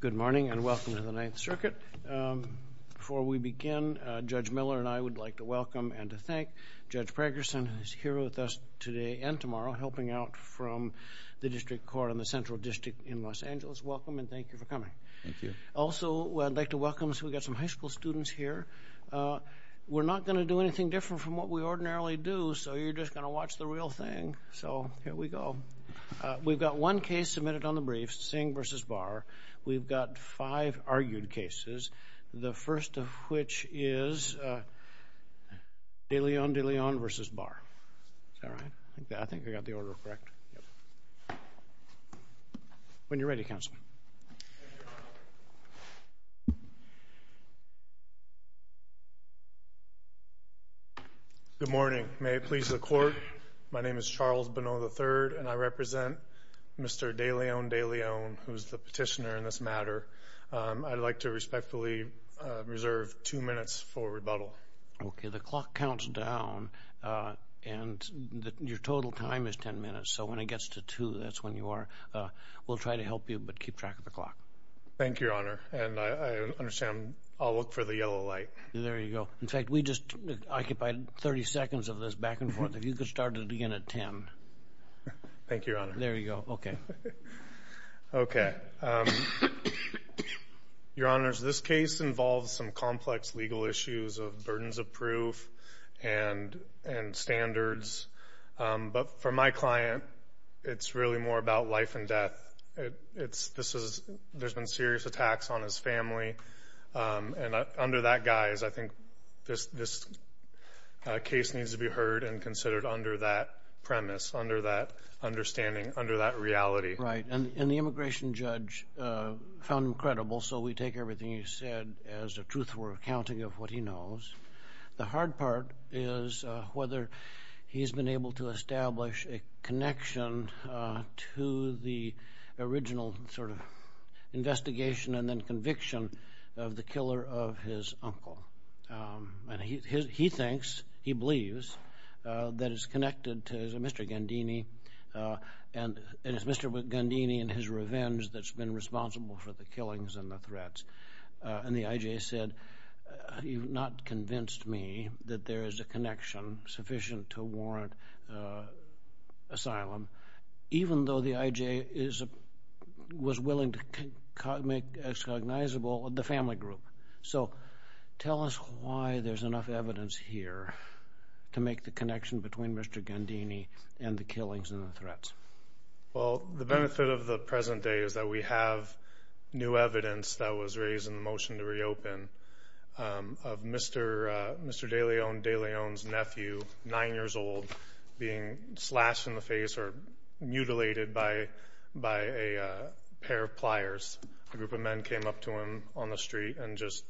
Good morning, and welcome to the Ninth Circuit. Before we begin, Judge Miller and I would like to welcome and to thank Judge Pragerson, who is here with us today and tomorrow, helping out from the District Court in the Central District in Los Angeles. Welcome, and thank you for coming. Thank you. Also, I'd like to welcome, we've got some high school students here. We're not going to do anything different from what we ordinarily do, so you're just going to watch the real Here we go. We've got one case submitted on the brief, Singh v. Barr. We've got five argued cases, the first of which is De Leon-De Leon v. Barr. Is that right? I think I got the order correct. When you're ready, counsel. Good morning. May it please the Court, my name is Charles Bonneau III, and I represent Mr. De Leon-De Leon, who is the petitioner in this matter. I'd like to respectfully reserve two minutes for rebuttal. Okay, the clock counts down, and your total time is ten minutes, so when it gets to two, that's when you are. We'll try to help you, but keep track of the clock. Thank you, Your Honor, and I understand I'll look for the yellow light. There you go. In fact, we just occupied 30 seconds of this back and forth. If you could start at the beginning at ten. Thank you, Your Honor. There you go. Okay. Your Honors, this case involves some complex legal issues of burdens of proof and standards, but for my client, it's really more about life and death. There's been serious attacks on his family, and under that guise, I think this case needs to be heard and considered under that premise, under that understanding, under that reality. Right, and the immigration judge found him credible, so we take everything he said as the truth we're accounting of what he knows. The hard part is whether he's been able to establish a connection to the original sort of investigation and then conviction of the Mr. Gandini, and it's Mr. Gandini and his revenge that's been responsible for the killings and the threats. And the I.J. said, you've not convinced me that there is a connection sufficient to warrant asylum, even though the I.J. was willing to make as cognizable the family group. So tell us why there's enough evidence here to make the connection between Mr. Gandini and the killings and the threats. Well, the benefit of the present day is that we have new evidence that was raised in the motion to reopen of Mr. DeLeon, DeLeon's nephew, nine years old, being slashed in the face or mutilated by a pair of pliers. A group of men came up to him on the street and just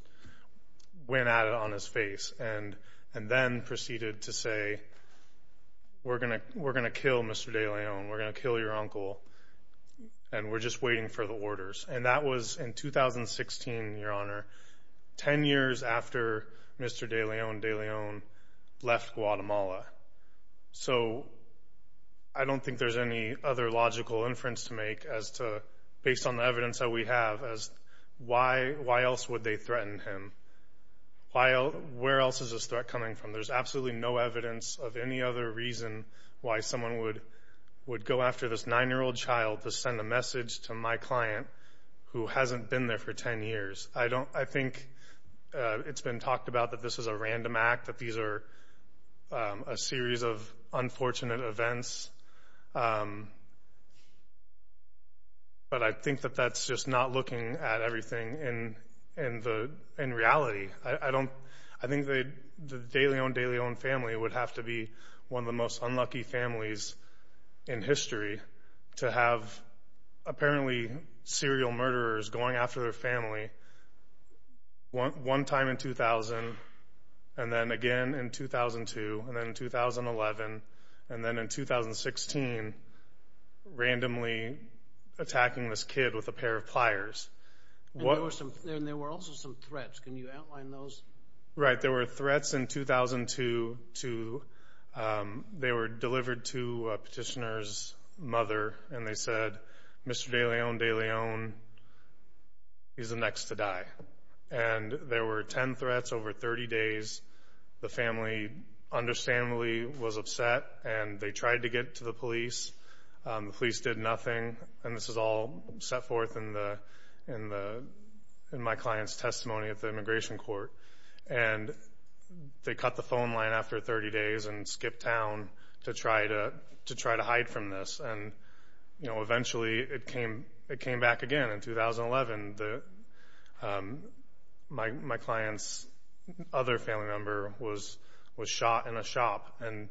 then proceeded to say, we're going to we're going to kill Mr. DeLeon. We're going to kill your uncle. And we're just waiting for the orders. And that was in 2016, your honor. Ten years after Mr. DeLeon, DeLeon left Guatemala. So I don't think there's any other logical inference to make as to based on the evidence that we have as why why else would they threaten him? While where else is this threat coming from? There's absolutely no evidence of any other reason why someone would would go after this nine year old child to send a message to my client who hasn't been there for 10 years. I don't I think it's been talked about that this is a random act, that these are a series of unfortunate events. But I think that that's just not looking at everything in in the in reality. I don't I think they the DeLeon DeLeon family would have to be one of the most unlucky families in history to have apparently serial murderers going after their family one time in 2000 and then with a pair of pliers. There were also some threats. Can you outline those? Right. There were threats in 2002 to they were delivered to petitioners mother and they said Mr. DeLeon DeLeon is the next to die. And there were 10 threats over 30 days. The family understandably was upset and they tried to get to the police. Police did nothing. And this is all set for forth in the in the in my client's testimony at the immigration court. And they cut the phone line after 30 days and skipped town to try to to try to hide from this. And, you know, eventually it came it came back again in 2011. My my client's other family member was was shot in a shop and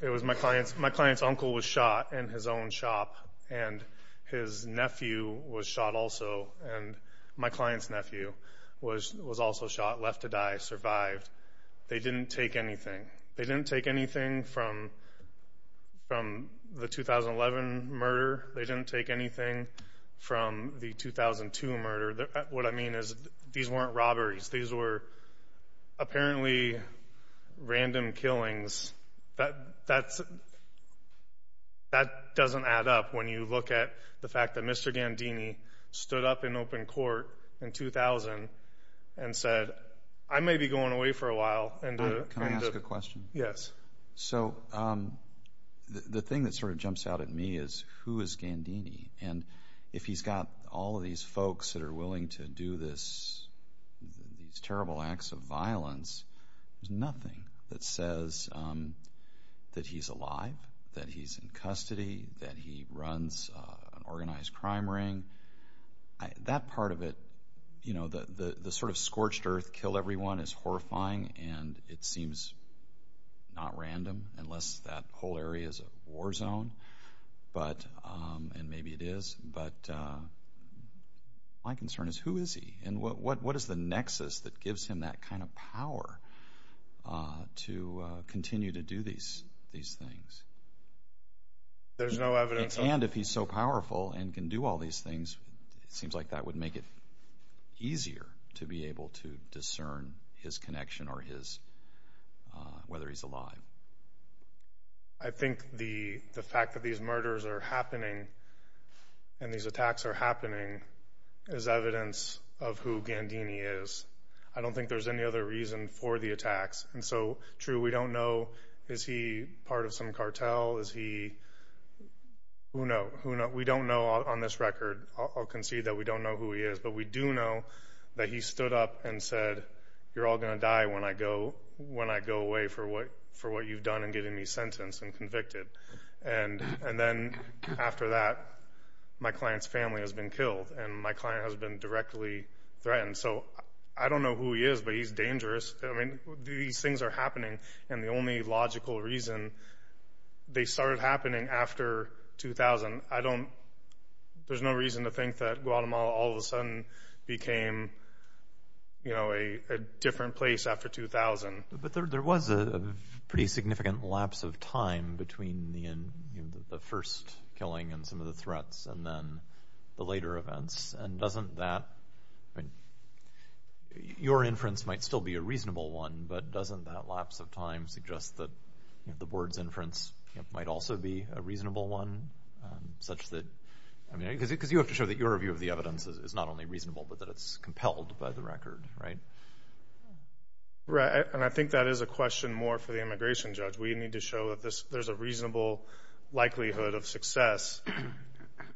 it was my client's. My client's uncle was shot in his own shop and his nephew was shot also. And my client's nephew was was also shot, left to die, survived. They didn't take anything. They didn't take anything from from the 2011 murder. They didn't take anything from the 2002 murder. What I mean is these weren't robberies. These were apparently random killings. But that's that doesn't add up when you look at the fact that Mr. Gandini stood up in open court in 2000 and said, I may be going away for a while and ask a question. Yes. So the thing that sort of jumps out at me is who is Gandini? And if he's got all of these folks that are willing to do this, these terrible acts of violence, there's nothing that says that he's alive, that he's in custody, that he runs organized crime ring. That part of it, you know, the the sort of scorched earth kill everyone is horrifying and it seems not random unless that whole area is a war zone. But and maybe it is. But my concern is who is he and what what is the nexus that gives him that kind of power to continue to do these these things? There's no evidence. And if he's so powerful and can do all these things, it seems like that would make it easier to be able to discern his connection or his whether he's alive. I think the fact that these murders are happening and these attacks are happening is evidence of who Gandini is. I don't think there's any other reason for the attacks. And so true. We don't know. Is he part of some we do know that he stood up and said, You're all gonna die when I go when I go away for what for what you've done and getting me sentenced and convicted. And and then after that, my client's family has been killed, and my client has been directly threatened. So I don't know who he is, but he's dangerous. I mean, these things are happening, and the only logical reason they became, you know, a different place after 2000. But there was a pretty significant lapse of time between the first killing and some of the threats and then the later events. And doesn't that your inference might still be a reasonable one, but doesn't that lapse of time suggest that the board's inference might also be a reasonable one, such that I mean, because it because you have to not only reasonable, but that it's compelled by the record, right? Right. And I think that is a question more for the immigration judge. We need to show that this there's a reasonable likelihood of success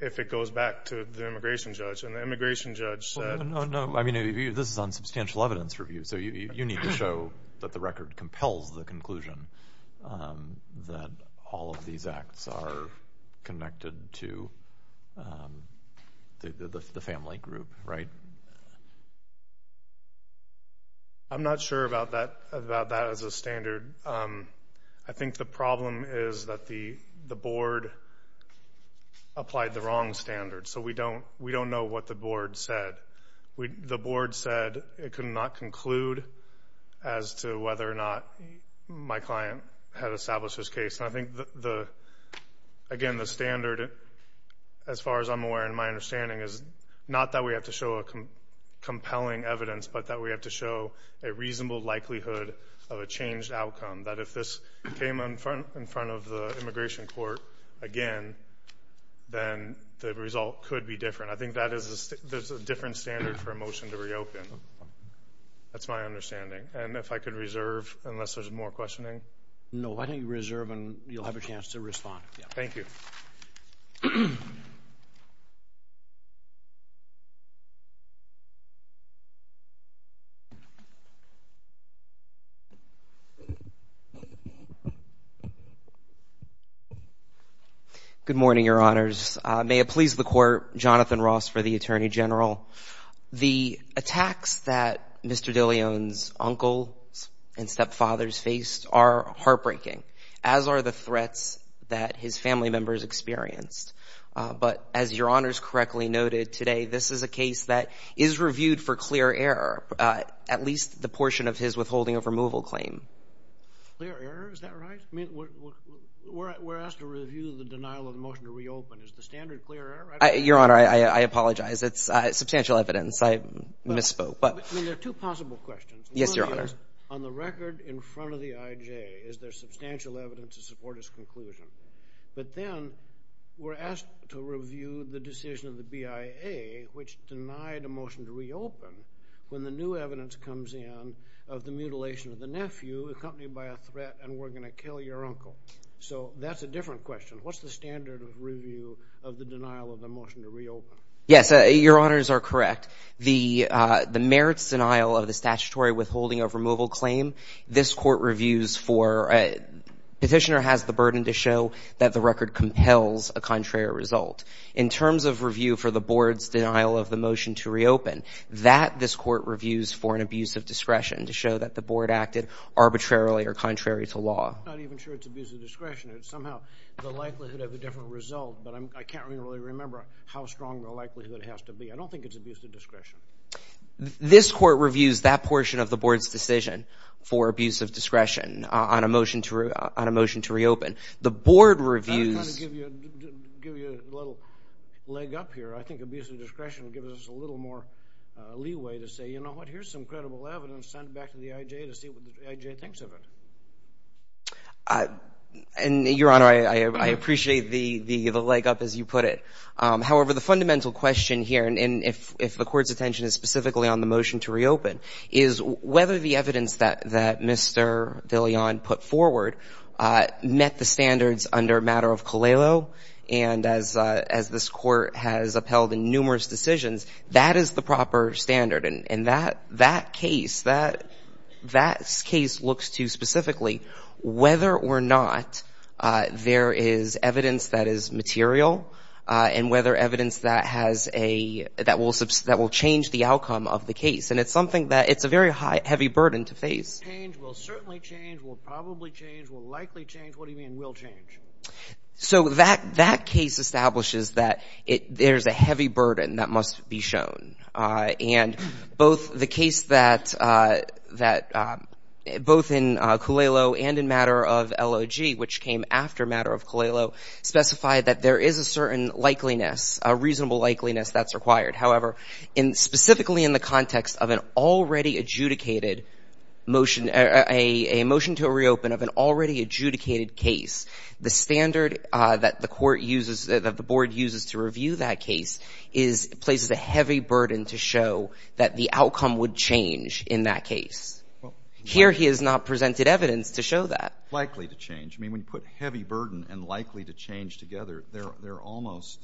if it goes back to the immigration judge and the immigration judge said, No, I mean, this is on substantial evidence review. So you need to show that the record compels the conclusion that all of these acts are connected to the family group, right? I'm not sure about that, about that as a standard. I think the problem is that the board applied the wrong standard. So we don't know what the board said. The board said it could not conclude as to whether or not my client had established this case. And I think, again, the standard, as far as I'm aware, in my understanding is not that we have to show a compelling evidence, but that we have to show a reasonable likelihood of a changed outcome, that if this came in front in front of the immigration court again, then the result could be different. I think that there's a different standard for a motion to reopen. That's my understanding. And if I could reserve unless there's more questioning. No, I think reserve and you'll have a chance to respond. Thank you. Good morning, Your Honors. May it please the Court, Jonathan Ross for the Attorney General. The attacks that Mr. DeLeon's uncles and stepfathers faced are heartbreaking, as are the threats that his family members experienced. But as Your Honors correctly noted today, this is a case that is reviewed for clear error, at least the portion of his withholding of removal claim. Clear error, is that right? I mean, we're asked to review the evidence. I misspoke. There are two possible questions. On the record in front of the IJ, is there substantial evidence to support his conclusion? But then we're asked to review the decision of the BIA, which denied a motion to reopen when the new evidence comes in of the mutilation of the nephew accompanied by a threat and we're going to kill your uncle. So that's a different question. What's the standard of review of the denial of the motion to reopen? Yes, Your Honors are correct. The merits denial of the statutory withholding of removal claim, this Court reviews for, Petitioner has the burden to show that the record compels a contrary result. In terms of review for the Board's denial of the motion to reopen, that this Court reviews for an abuse of discretion to show that the Board acted arbitrarily or contrary to law. I'm not even sure it's abuse of discretion. It's somehow the likelihood of a different result, but I can't really remember how strong the likelihood has to be. I don't think it's abuse of discretion. This Court reviews that portion of the Board's decision for abuse of discretion on a motion to reopen. The Board reviews... I'm trying to give you a little leg up here. I think abuse of discretion gives us a little more leeway to say, you know what, here's some credible evidence sent back to the IJ to see what the IJ thinks of it. And, Your Honor, I appreciate the leg up, as you put it. However, the fundamental question here, and if the Court's attention is specifically on the motion to reopen, is whether the evidence that Mr. De Leon put forward met the standards under matter of Colello, and as this Court has upheld in numerous decisions, that is the proper standard. And that case, that case looks to specifically whether or not there is evidence that is material and whether evidence that has a... that will change the outcome of the case. And it's something that it's a very heavy burden to face. Change will certainly change, will probably change, will likely change. What do you mean will change? So that case establishes that there's a heavy burden. The case that both in Colello and in matter of LOG, which came after matter of Colello, specified that there is a certain likeliness, a reasonable likeliness that's required. However, specifically in the context of an already adjudicated motion, a motion to reopen of an already adjudicated case, the standard that the Court uses, that the Board uses to review that case, places a heavy burden to show that the outcome would change in that case. Here he has not presented evidence to show that. Likely to change. I mean, when you put heavy burden and likely to change together, they're almost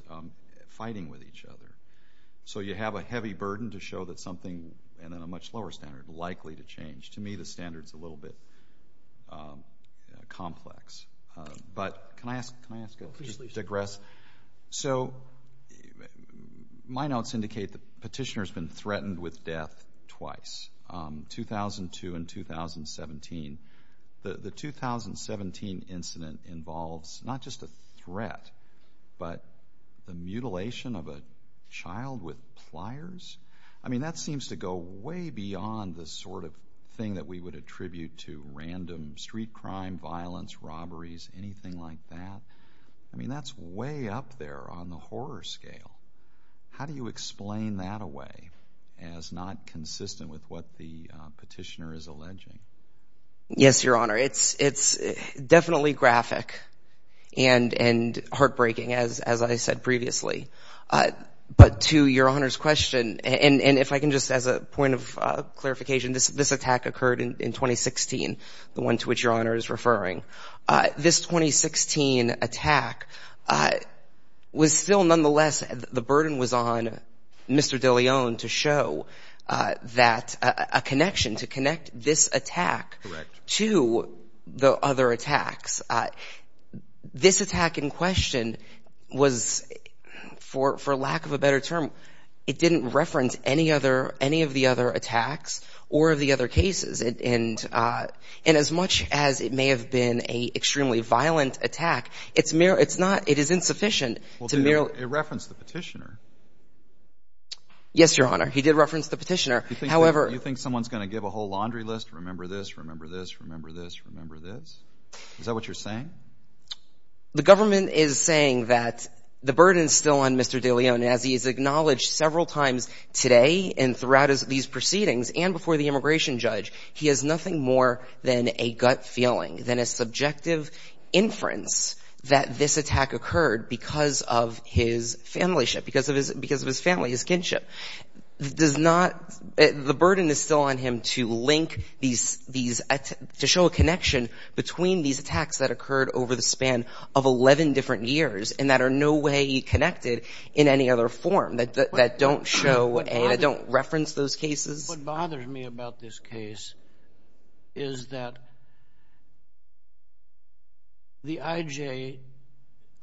fighting with each other. So you have a heavy burden to show that something in a much lower standard likely to change. To me, the standard's a little bit complex. But can I ask, can I ask to digress? So my notes indicate that Petitioner's been threatened with death twice, 2002 and 2017. The 2017 incident involves not just a threat, but the mutilation of a child with pliers? I mean, that seems to go way beyond the sort of that we would attribute to random street crime, violence, robberies, anything like that. I mean, that's way up there on the horror scale. How do you explain that away as not consistent with what the Petitioner is alleging? Yes, Your Honor. It's definitely graphic and heartbreaking, as I said previously. But to Your Honor's question, and if I can just, as a point of clarification, this attack occurred in 2016, the one to which Your Honor is referring. This 2016 attack was still nonetheless, the burden was on Mr. DeLeon to show that a connection, to connect this attack to the other attacks. This attack in question was, for lack of a better term, it didn't reference any other, attacks or the other cases. And as much as it may have been a extremely violent attack, it's not, it is insufficient to merely... It referenced the Petitioner. Yes, Your Honor. He did reference the Petitioner. However... You think someone's going to give a whole laundry list, remember this, remember this, remember this, remember this? Is that what you're saying? The government is saying that the burden is still on Mr. DeLeon, as he has acknowledged several times today and throughout these proceedings and before the immigration judge, he has nothing more than a gut feeling, than a subjective inference that this attack occurred because of his family ship, because of his family, his kinship. Does not, the burden is still on him to link these, to show a connection between these attacks that occurred over the span of 11 different years and that are no way connected in any other form, that don't show and don't reference those cases? What bothers me about this case is that the IJ,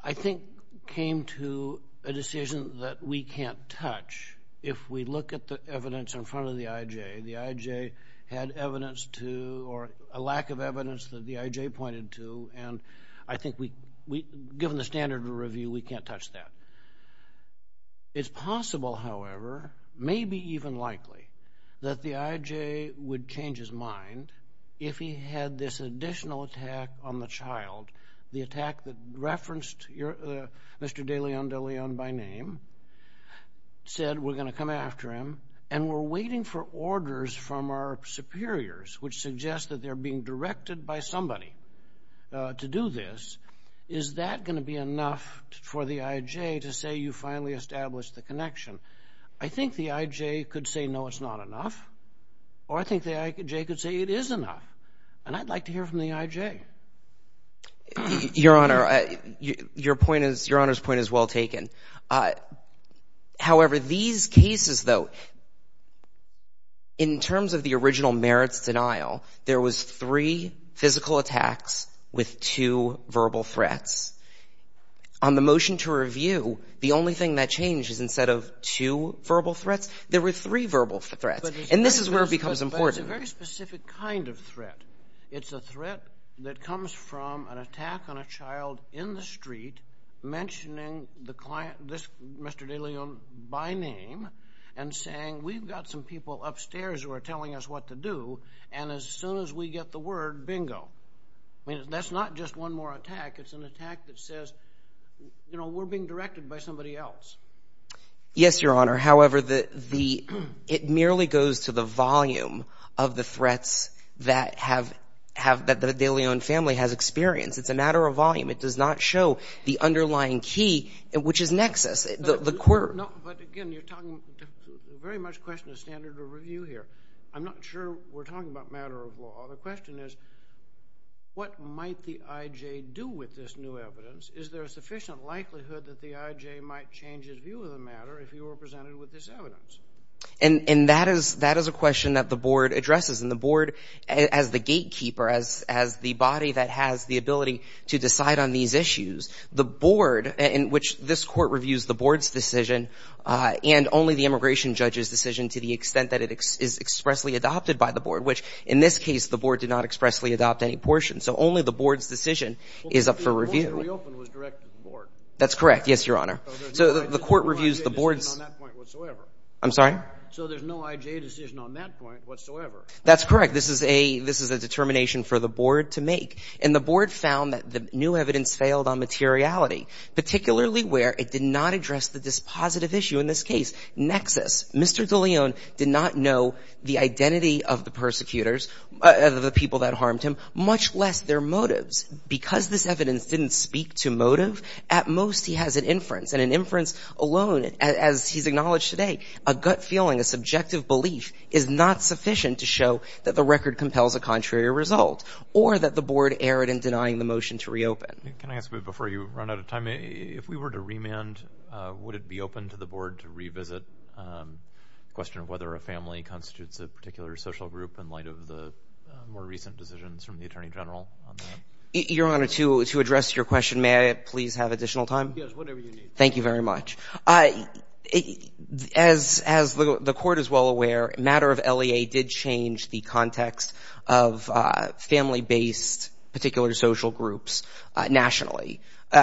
I think, came to a decision that we can't touch. If we look at the evidence in front of the IJ, the IJ had evidence to, or a lack of evidence that the IJ pointed to, and I think we, given the standard of review, we can't touch that. It's possible, however, maybe even likely, that the IJ would change his mind if he had this additional attack on the child, the attack that referenced Mr. DeLeon, DeLeon by name, said we're going to come after him, and we're waiting for orders from our superiors, which is to try somebody to do this. Is that going to be enough for the IJ to say you finally established the connection? I think the IJ could say no, it's not enough, or I think the IJ could say it is enough, and I'd like to hear from the IJ. Your Honor, your point is, your Honor's point is well taken. However, these cases, though, in terms of the original merits denial, there was three physical attacks with two verbal threats. On the motion to review, the only thing that changes, instead of two verbal threats, there were three verbal threats, and this is where it becomes important. It's a very specific kind of threat. It's a threat that comes from an attack on a child in the street mentioning the client, Mr. DeLeon by name, and saying we've got some people upstairs who are telling us what to do, and as soon as we get the word, bingo. I mean, that's not just one more attack. It's an attack that says, you know, we're being directed by somebody else. Yes, your Honor. However, it merely goes to the volume of the threats that the DeLeon family has experienced. It's a matter of volume. It does not show the underlying key, which is nexus, the quirk. No, but again, you're talking very much question of standard of review here. I'm not sure we're talking about matter of law. The question is, what might the IJ do with this new evidence? Is there a sufficient likelihood that the IJ might change his view of the matter if he were presented with this evidence? And that is a question that the Board addresses, and the Board, as the gatekeeper, as the body that has the ability to decide on these issues, the Board, in which this Court reviews the Board's decision, and only the immigration judge's decision to the extent that it is expressly adopted by the Board, which, in this case, the Board did not expressly adopt any portion. So only the Board's decision is up for review. Well, the Board that reopened was directed to the Board. That's correct. Yes, your Honor. So the Court reviews the Board's... So there's no IJ decision on that point whatsoever. I'm sorry? So there's no IJ decision on that point whatsoever. That's correct. This is a determination for the Board to make. And the Board found that the new evidence failed on materiality, particularly where it did not address the dispositive issue in this case, nexus. Mr. De Leon did not know the identity of the persecutors, of the people that harmed him, much less their motives. Because this evidence didn't speak to motive, at most he has an inference. And an inference alone, as he's acknowledged today, a gut feeling, a subjective belief, is not sufficient to show that the record compels a contrary result, or that the Board erred in denying the motion to reopen. Can I ask, before you run out of time, if we were to remand, would it be open to the Board to revisit the question of whether a family constitutes a particular social group in light of the more recent decisions from the Attorney General on that? Your Honor, to address your question, may I please have additional time? Yes, whatever you need. Thank you very much. As the Court is well aware, a matter of LEA did change the context of family-based particular social groups nationally.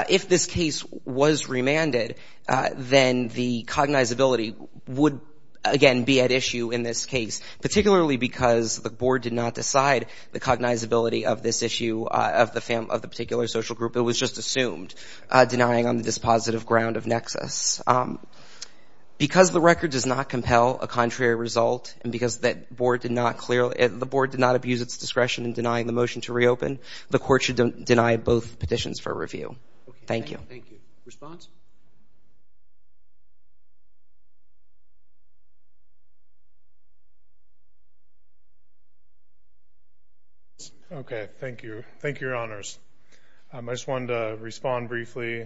If this case was remanded, then the cognizability would, again, be at issue in this case, particularly because the Board did not decide the cognizability of this issue of the particular social group. It was just assumed, denying on the dispositive ground of nexus. Because the record does not compel a contrary result, and because the Board did not abuse its discretion in denying the motion to reopen, the Court should deny both petitions for review. Thank you. Thank you. Response? Okay. Thank you. Thank you, Your Honors. I just wanted to respond briefly.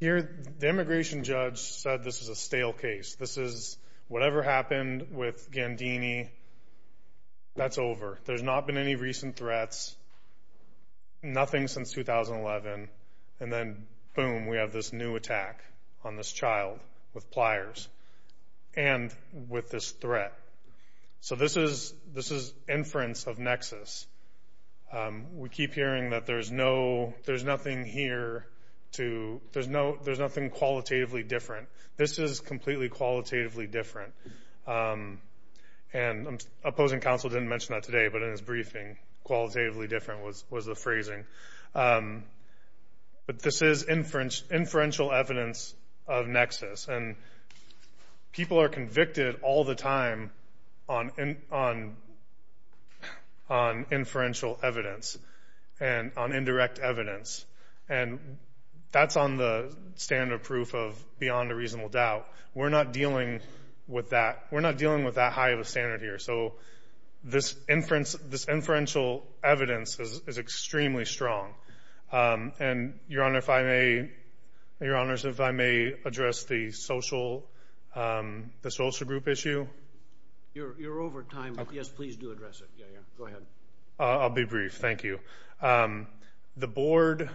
Here, the immigration judge said this is a stale case. This is whatever happened with Gandini, that's over. There's not been any recent threats, nothing since 2011. And then, boom, we have this new attack on this child with pliers and with this threat. So this is inference of nexus. We keep hearing that there's nothing here to, there's nothing qualitatively different. This is completely qualitatively different. And opposing counsel didn't mention that today, but in his briefing, qualitatively different was the phrasing. But this is inferential evidence of nexus. And people are convicted all the time on inferential evidence and on indirect evidence. And that's on the standard of proof of beyond a reasonable doubt. We're not dealing with that. We're not dealing with that. So inferential evidence is extremely strong. And, Your Honor, if I may, Your Honors, if I may address the social group issue. You're over time. Yes, please do address it. Yeah, yeah. Go ahead. I'll be brief. Thank you. The Board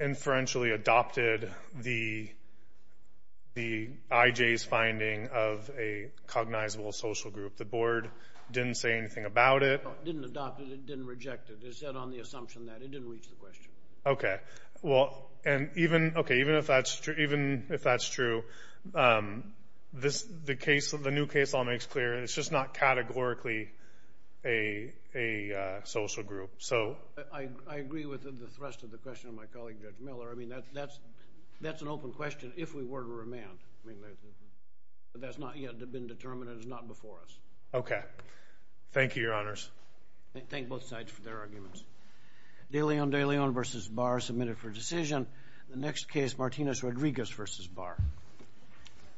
inferentially adopted the IJ's finding of a cognizable social group. The Board didn't say anything about it. It didn't adopt it. It didn't reject it. It said on the assumption that it didn't reach the question. Okay. Well, and even if that's true, the new case law makes clear it's just not categorically a social group. I agree with the thrust of the question of my colleague, Judge Miller. I mean, that's an open question if we were to remand. But that's not yet been determined and it's not before us. Okay. Thank you, Your Honors. Thank both sides for their arguments. De Leon versus Barr submitted for decision. The next case, Martinez Rodriguez versus Barr.